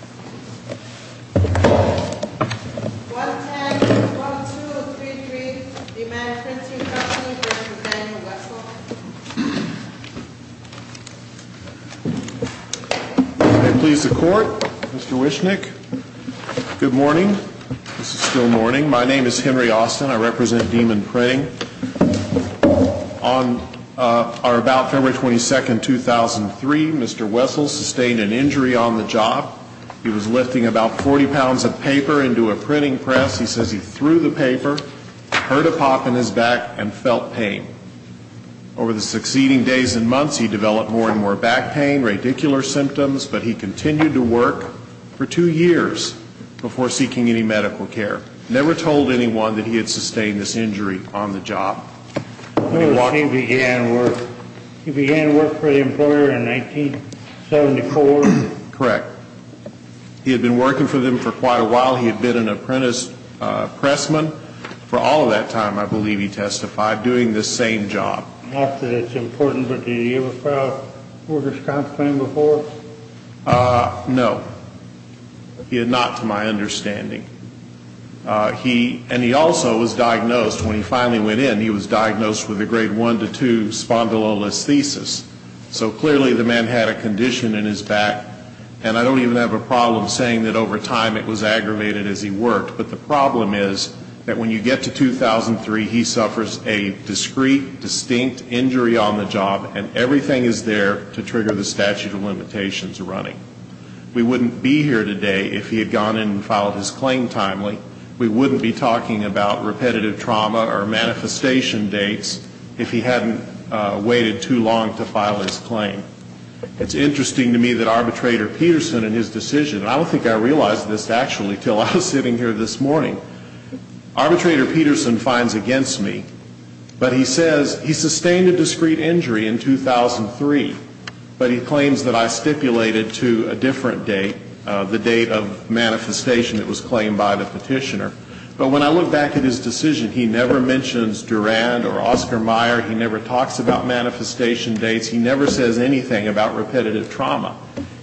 1-10-1233, Demand Printing Company v. Daniel Wessel May it please the Court, Mr. Wishnick. Good morning. This is still morning. My name is Henry Austin. I represent Demon Printing. On our about February 22, 2003, Mr. Wessel sustained an injury on the job. He was lifting about 40 pounds of paper into a printing press. He says he threw the paper, heard a pop in his back, and felt pain. Over the succeeding days and months, he developed more and more back pain, radicular He began work for the employer in 1974? Correct. He had been working for them for quite a while. He had been an apprentice pressman for all of that time, I believe he testified, doing this same job. Not that it's important, but did he ever file a workers' comp claim before? No. Not to my understanding. And he also was diagnosed, when he finally went in, he was diagnosed with a grade 1 to 2 spondylolisthesis. So clearly the man had a condition in his back. And I don't even have a problem saying that over time it was aggravated as he worked. But the problem is that when you get to 2003, he suffers a discreet, distinct injury on the job, and everything is there to trigger the statute of limitations running. We wouldn't be here today if he had gone in and filed his claim timely. We wouldn't be talking about repetitive trauma or manifestation dates if he hadn't waited too long to file his claim. It's interesting to me that Arbitrator Peterson in his decision, and I don't think I realized this actually until I was sitting here this morning, Arbitrator Peterson finds against me, but he says he sustained a discreet injury in 2003, but he claims that I stipulated to a different date, the date of manifestation that was claimed by the petitioner. But when I look back at his decision, he never mentions Durand or Oscar Meyer, he never talks about manifestation dates, he never says anything about repetitive trauma.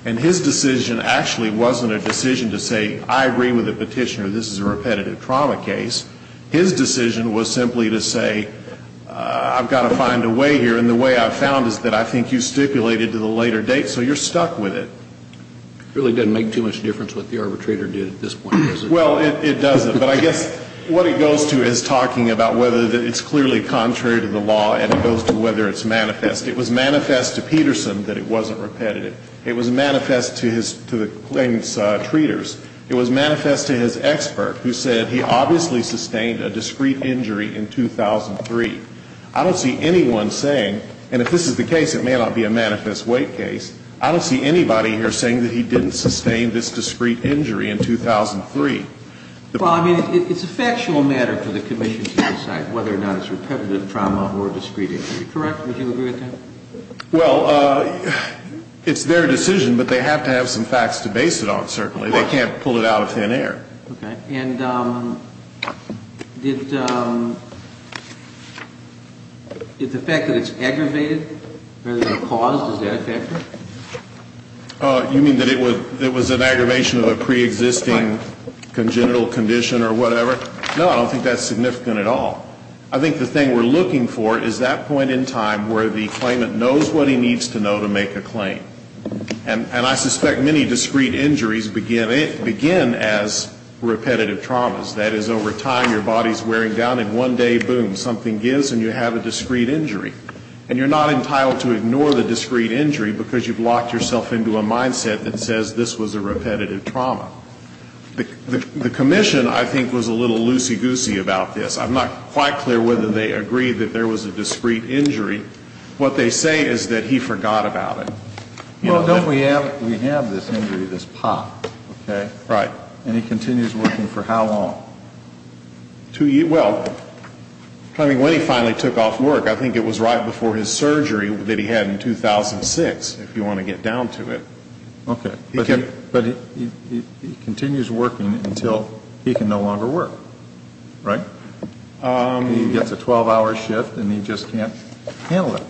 And his decision actually wasn't a decision to say, I agree with the petitioner, this is a repetitive trauma case. His decision was simply to say, I've got to find a way here, and the way I've found is that I think you stipulated to the later date, so you're stuck with it. It really doesn't make too much difference what the arbitrator did at this point, does it? Well, it doesn't. But I guess what it goes to is talking about whether it's clearly contrary to the law and it goes to whether it's manifest. It was manifest to Peterson that it wasn't repetitive. It was manifest to the claimant's treaters. It was manifest to his expert who said he obviously sustained a discreet injury in 2003. I don't see anyone saying, and if this is the case, it may not be a manifest weight case, I don't see anybody here saying that he didn't sustain this discreet injury in 2003. Well, I mean, it's a factual matter for the commission to decide whether or not it's repetitive trauma or discreet injury. Correct? Would you agree with that? Well, it's their decision, but they have to have some facts to base it on, certainly. They can't pull it out of thin air. Okay. And did the fact that it's aggravated or caused, is that a factor? You mean that it was an aggravation of a preexisting congenital condition or whatever? No, I don't think that's significant at all. I think the thing we're looking for is that point in time where the claimant knows what he needs to know to make a claim. And I suspect many discreet injuries begin as repetitive traumas. That is, over time, your body's wearing down, and one day, boom, something gives and you have a discreet injury. And you're not entitled to ignore the discreet injury because you've locked yourself into a mindset that says this was a repetitive trauma. The commission, I think, was a little loosey-goosey about this. I'm not quite clear whether they agreed that there was a discreet injury. What they say is that he forgot about it. Well, don't we have this injury, this pop, okay? Right. And he continues working for how long? Two years. Well, I mean, when he finally took off work, I think it was right before his surgery that he had in 2006, if you want to get down to it. Okay. But he continues working until he can no longer work, right? He gets a 12-hour shift and he just can't handle it.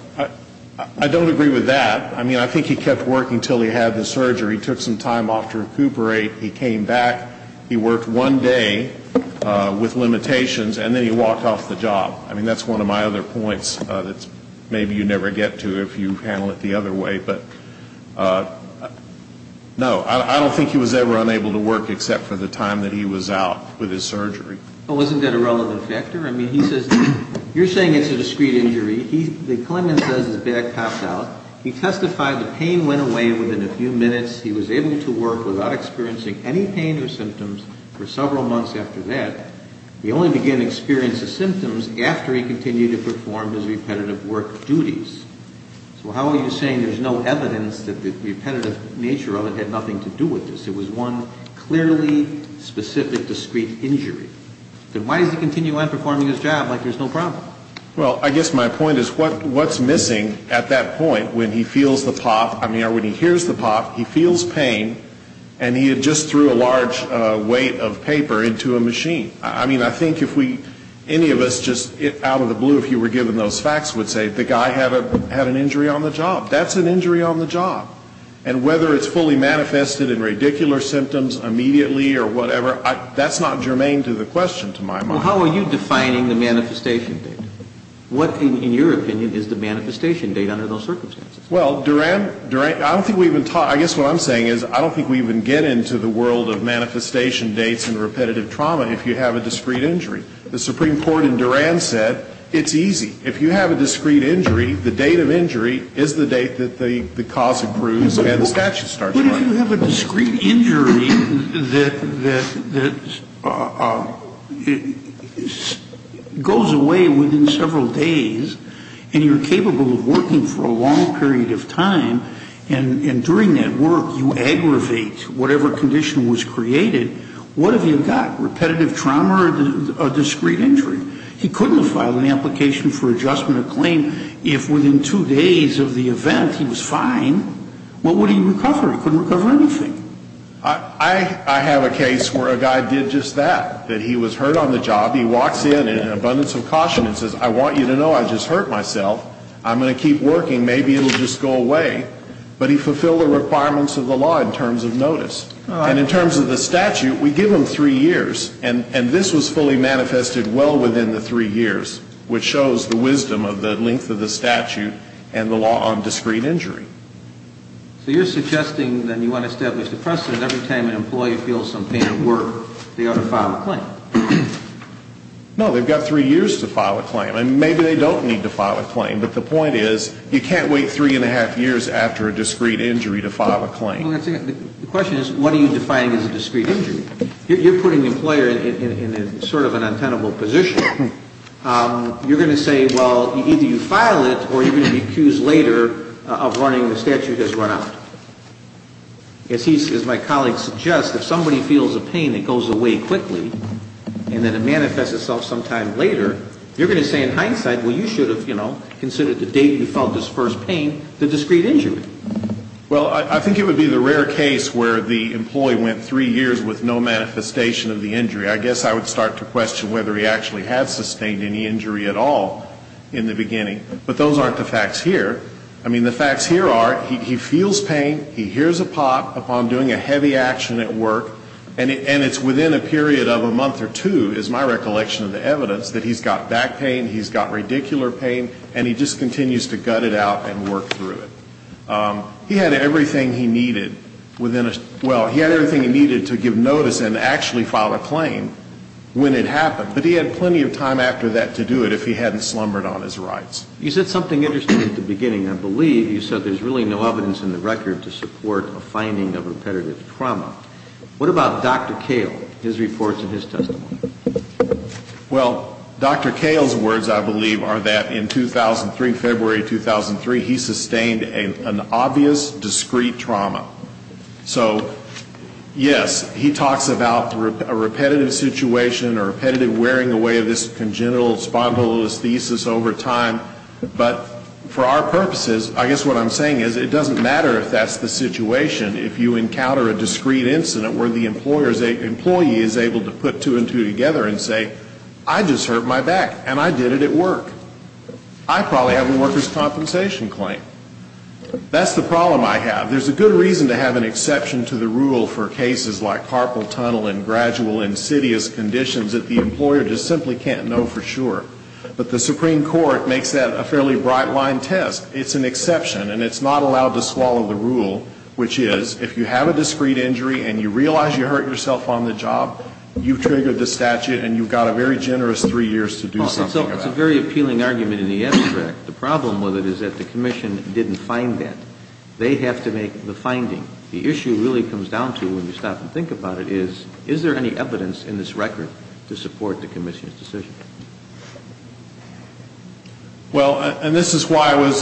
I don't agree with that. I mean, I think he kept working until he had the surgery. He took some time off to recuperate. He came back. He worked one day with limitations, and then he walked off the job. I mean, that's one of my other points that maybe you never get to if you handle it the other way. But, no, I don't think he was ever unable to work except for the time that he was out with his surgery. Well, isn't that a relevant factor? I mean, he says you're saying it's a discrete injury. The claimant says his back popped out. He testified the pain went away within a few minutes. He was able to work without experiencing any pain or symptoms for several months after that. He only began to experience the symptoms after he continued to perform his repetitive work duties. So how are you saying there's no evidence that the repetitive nature of it had nothing to do with this? It was one clearly specific discrete injury. Then why does he continue on performing his job like there's no problem? Well, I guess my point is what's missing at that point when he feels the pop, I mean, or when he hears the pop, he feels pain, and he had just threw a large weight of paper into a machine. I mean, I think if we any of us just out of the blue, if you were given those facts, would say the guy had an injury on the job. That's an injury on the job. And whether it's fully manifested in radicular symptoms immediately or whatever, that's not germane to the question, to my mind. Well, how are you defining the manifestation date? What, in your opinion, is the manifestation date under those circumstances? Well, Durand, I don't think we've been taught. I guess what I'm saying is I don't think we even get into the world of manifestation dates and repetitive trauma if you have a discrete injury. The Supreme Court in Durand said it's easy. If you have a discrete injury, the date of injury is the date that the cause accrues and the statute starts running. But if you have a discrete injury that goes away within several days and you're capable of working for a long period of time, and during that work you aggravate whatever condition was created, what have you got, repetitive trauma or discrete injury? He couldn't have filed an application for adjustment of claim if within two days of the event he was fine. What would he recover? He couldn't recover anything. I have a case where a guy did just that, that he was hurt on the job. He walks in in an abundance of caution and says, I want you to know I just hurt myself. I'm going to keep working. Maybe it will just go away. But he fulfilled the requirements of the law in terms of notice. And in terms of the statute, we give him three years. And this was fully manifested well within the three years, which shows the wisdom of the length of the statute and the law on discrete injury. So you're suggesting that you want to establish the precedent every time an employee feels some pain at work, they ought to file a claim. No, they've got three years to file a claim. And maybe they don't need to file a claim. But the point is, you can't wait three and a half years after a discrete injury to file a claim. The question is, what are you defining as a discrete injury? You're putting the employer in sort of an untenable position. You're going to say, well, either you file it or you're going to be accused later of running the statute as run out. As my colleague suggests, if somebody feels a pain that goes away quickly and then it manifests itself sometime later, you're going to say in hindsight, well, you should have, you know, considered the date you felt this first pain the discrete injury. Well, I think it would be the rare case where the employee went three years with no manifestation of the injury. I guess I would start to question whether he actually had sustained any injury at all in the beginning. But those aren't the facts here. I mean, the facts here are he feels pain, he hears a pop upon doing a heavy action at work, and it's within a period of a month or two, is my recollection of the evidence, that he's got back pain, he's got radicular pain, and he just continues to gut it out and work through it. He had everything he needed within a, well, he had everything he needed to give notice and actually file a claim when it happened. But he had plenty of time after that to do it if he hadn't slumbered on his rights. You said something interesting at the beginning. I believe you said there's really no evidence in the record to support a finding of repetitive trauma. What about Dr. Kale, his reports and his testimony? Well, Dr. Kale's words, I believe, are that in 2003, February 2003, he sustained an obvious discrete trauma. So, yes, he talks about a repetitive situation or repetitive wearing away of this congenital spondylolisthesis over time. But for our purposes, I guess what I'm saying is it doesn't matter if that's the situation. If you encounter a discrete incident where the employee is able to put two and two together and say, I just hurt my back, and I did it at work. I probably have a workers' compensation claim. That's the problem I have. There's a good reason to have an exception to the rule for cases like carpal tunnel and gradual insidious conditions that the employer just simply can't know for sure. But the Supreme Court makes that a fairly bright-line test. It's an exception, and it's not allowed to swallow the rule, which is if you have a discrete injury and you realize you hurt yourself on the job, you've triggered the statute and you've got a very generous three years to do something about it. It's a very appealing argument in the abstract. The problem with it is that the commission didn't find that. They have to make the finding. The issue really comes down to, when you stop and think about it, is, is there any evidence in this record to support the commission's decision? Well, and this is why I was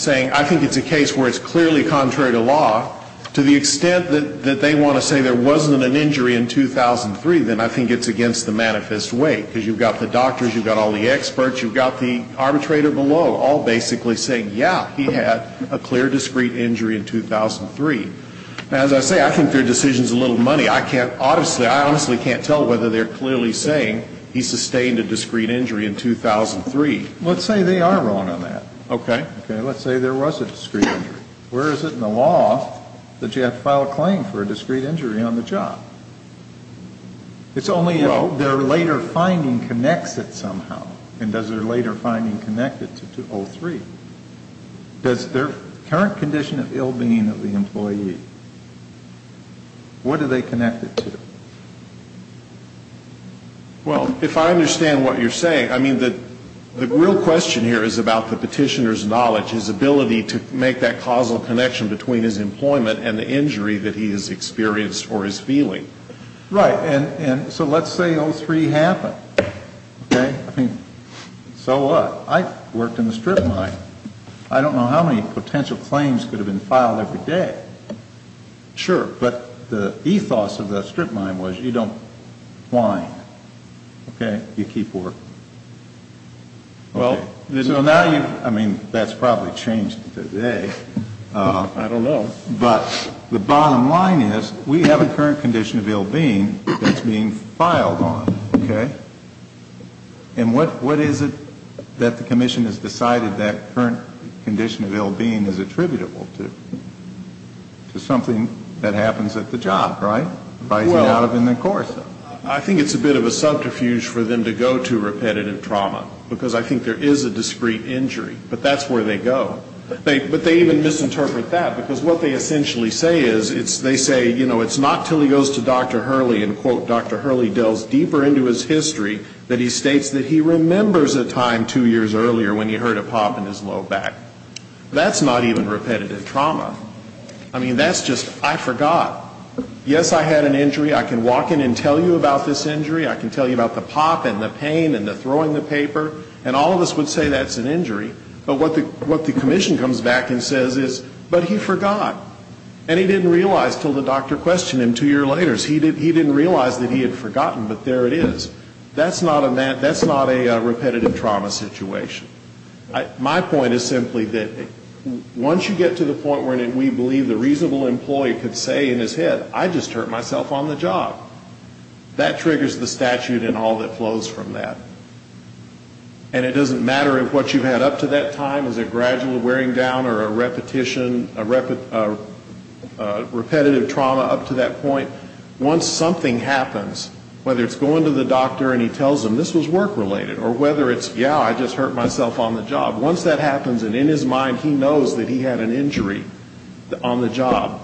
saying, I think it's a case where it's clearly contrary to law. To the extent that they want to say there wasn't an injury in 2003, then I think it's against the manifest way, because you've got the doctors, you've got all the experts, you've got the arbitrator below, all basically saying, yeah, he had a clear, discrete injury in 2003. Now, as I say, I think their decision's a little money. I can't honestly, I honestly can't tell whether they're clearly saying he sustained a discrete injury in 2003. Let's say they are wrong on that. Okay. Okay. Let's say there was a discrete injury. Where is it in the law that you have to file a claim for a discrete injury on the job? It's only if their later finding connects it somehow. And does their later finding connect it to 2003? Does their current condition of ill-being of the employee, what do they connect it to? Well, if I understand what you're saying, I mean, the real question here is about the petitioner's knowledge, his ability to make that causal connection between his employment and the injury that he has experienced or is feeling. Right. And so let's say 03 happened. Okay. I mean, so what? I worked in the strip mine. I don't know how many potential claims could have been filed every day. Sure. But the ethos of the strip mine was you don't whine. Okay. You keep working. So now you've, I mean, that's probably changed today. I don't know. But the bottom line is we have a current condition of ill-being that's being filed on. Okay. And what is it that the commission has decided that current condition of ill-being is attributable to? To something that happens at the job, right? Rising out of in the course of it. I think it's a bit of a subterfuge for them to go to repetitive trauma. Because I think there is a discrete injury. But that's where they go. But they even misinterpret that. Because what they essentially say is they say, you know, it's not until he goes to Dr. Hurley and, quote, Dr. Hurley delves deeper into his history that he states that he remembers a time two years earlier when he heard a pop in his low back. That's not even repetitive trauma. I mean, that's just, I forgot. Yes, I had an injury. I can walk in and tell you about this injury. I can tell you about the pop and the pain and the throwing the paper. And all of us would say that's an injury. But what the commission comes back and says is, but he forgot. And he didn't realize until the doctor questioned him two years later. He didn't realize that he had forgotten, but there it is. That's not a repetitive trauma situation. My point is simply that once you get to the point where we believe the reasonable employee could say in his head, I just hurt myself on the job, that triggers the statute and all that flows from that. And it doesn't matter if what you've had up to that time is a gradual wearing down or a repetition, a repetitive trauma up to that point. Once something happens, whether it's going to the doctor and he tells them this was work-related, or whether it's, yeah, I just hurt myself on the job. Once that happens and in his mind he knows that he had an injury on the job,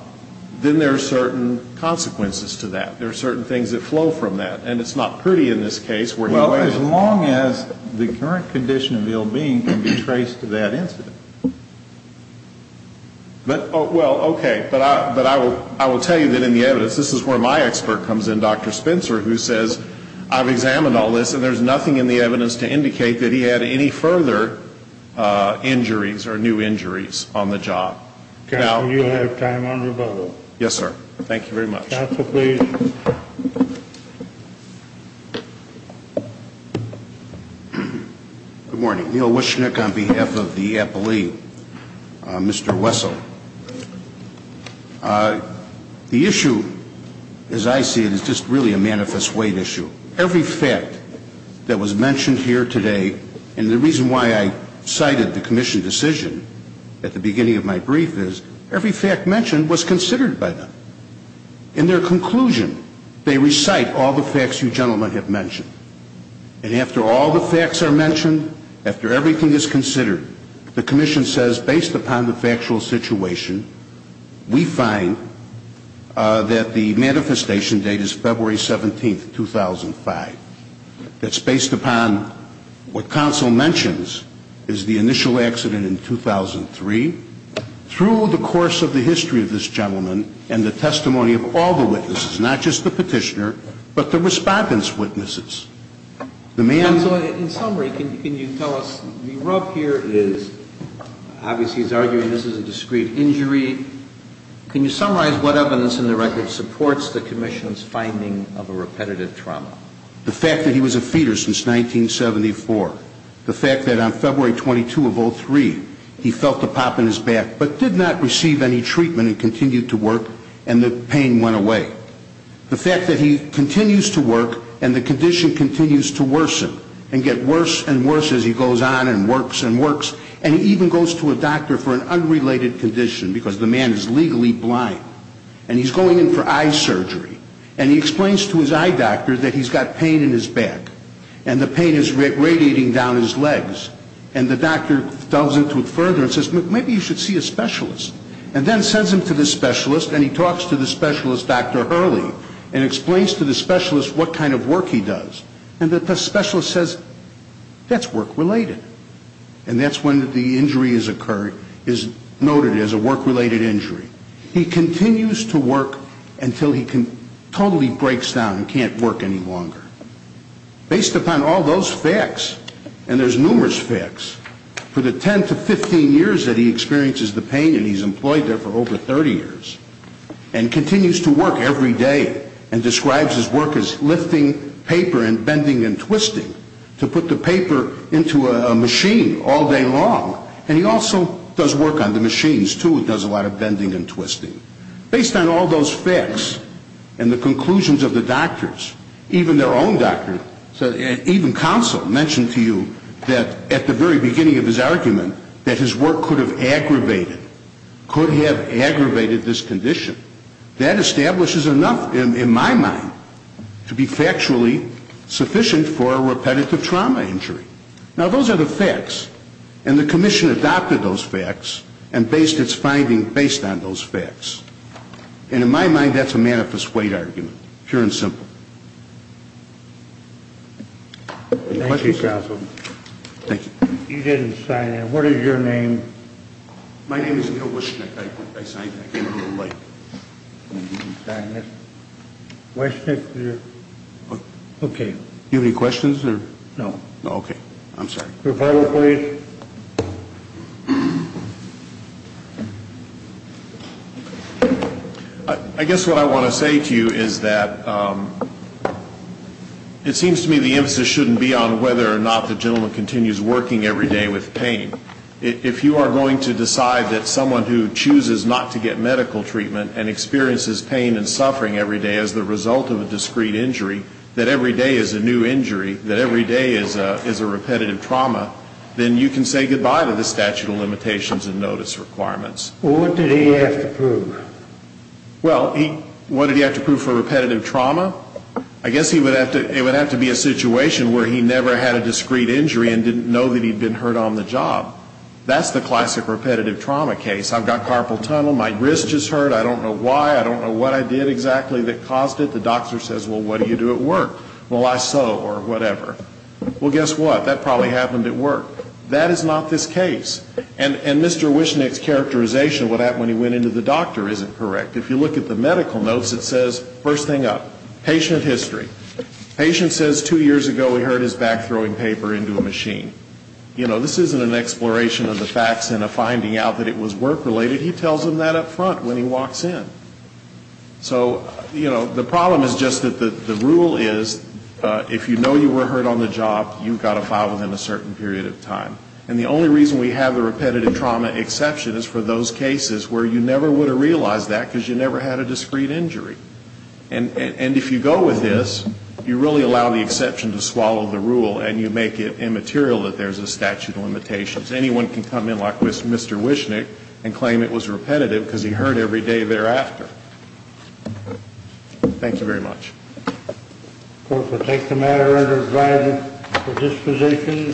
then there are certain consequences to that. There are certain things that flow from that. And it's not pretty in this case. Well, as long as the current condition of ill-being can be traced to that incident. Well, okay. But I will tell you that in the evidence, this is where my expert comes in, Dr. Spencer, who says I've examined all this and there's nothing in the evidence to indicate that he had any further injuries or new injuries on the job. Counsel, you have time on rebuttal. Yes, sir. Thank you very much. Counsel, please. Good morning. Neil Wyschnick on behalf of the appellee. Mr. Wessel. The issue, as I see it, is just really a manifest weight issue. Every fact that was mentioned here today, and the reason why I cited the commission decision at the beginning of my brief is every fact mentioned was considered by them. And after all the facts are mentioned, after everything is considered, the commission says based upon the factual situation, we find that the manifestation date is February 17th, 2005. That's based upon what counsel mentions is the initial accident in 2003. Through the course of the history of this gentleman and the testimony of all the witnesses, not just the petitioner, but the respondent's witnesses. Counsel, in summary, can you tell us the rub here is obviously he's arguing this is a discreet injury. Can you summarize what evidence in the record supports the commission's finding of a repetitive trauma? The fact that he was a fetus since 1974. The fact that on February 22 of 03, he felt a pop in his back, but did not receive any treatment and continued to work, and the pain went away. The fact that he continues to work, and the condition continues to worsen, and get worse and worse as he goes on and works and works. And he even goes to a doctor for an unrelated condition, because the man is legally blind. And he's going in for eye surgery. And he explains to his eye doctor that he's got pain in his back. And the pain is radiating down his legs. And the doctor delves into it further and says, maybe you should see a specialist. And then sends him to the specialist, and he talks to the specialist, Dr. Hurley, and explains to the specialist what kind of work he does. And the specialist says, that's work-related. And that's when the injury is noted as a work-related injury. He continues to work until he totally breaks down and can't work any longer. Based upon all those facts, and there's numerous facts, for the 10 to 15 years that he experiences the pain, and he's employed there for over 30 years, and continues to work every day and describes his work as lifting paper and bending and twisting to put the paper into a machine all day long. And he also does work on the machines, too, and does a lot of bending and twisting. Based on all those facts and the conclusions of the doctors, even their own doctor, even counsel mentioned to you that at the very beginning of his argument, that his work could have aggravated, could have aggravated this condition. That establishes enough, in my mind, to be factually sufficient for a repetitive trauma injury. Now, those are the facts. And the commission adopted those facts and based its finding based on those facts. And in my mind, that's a manifest weight argument, pure and simple. Thank you, counsel. Thank you. You didn't sign in. What is your name? My name is Neil Wyschnick. I came a little late. Wyschnick, you're okay. Do you have any questions? No. Okay. I'm sorry. Your final plea. I guess what I want to say to you is that it seems to me the emphasis shouldn't be on whether or not the gentleman continues working every day with pain. If you are going to decide that someone who chooses not to get medical treatment and experiences pain and suffering every day as the result of a discreet injury, that every day is a new injury, that every day is a repetitive trauma, then you can say goodbye to the statute of limitations and notice requirements. Well, what did he have to prove? Well, what did he have to prove for repetitive trauma? I guess it would have to be a situation where he never had a discreet injury and didn't know that he'd been hurt on the job. That's the classic repetitive trauma case. I've got carpal tunnel. My wrist just hurt. I don't know why. I don't know what I did exactly that caused it. The doctor says, well, what do you do at work? Well, I sew or whatever. Well, guess what? That probably happened at work. That is not this case. And Mr. Wishnick's characterization of what happened when he went into the doctor isn't correct. If you look at the medical notes, it says, first thing up, patient history. Patient says two years ago he hurt his back throwing paper into a machine. You know, this isn't an exploration of the facts and a finding out that it was work-related. He tells them that up front when he walks in. So, you know, the problem is just that the rule is if you know you were hurt on the job, you've got to file within a certain period of time. And the only reason we have the repetitive trauma exception is for those cases where you never would have realized that because you never had a discreet injury. And if you go with this, you really allow the exception to swallow the rule and you make it immaterial that there's a statute of limitations. Anyone can come in like Mr. Wishnick and claim it was repetitive because he hurt every day thereafter. Thank you very much. Court will take the matter under advisory for disposition.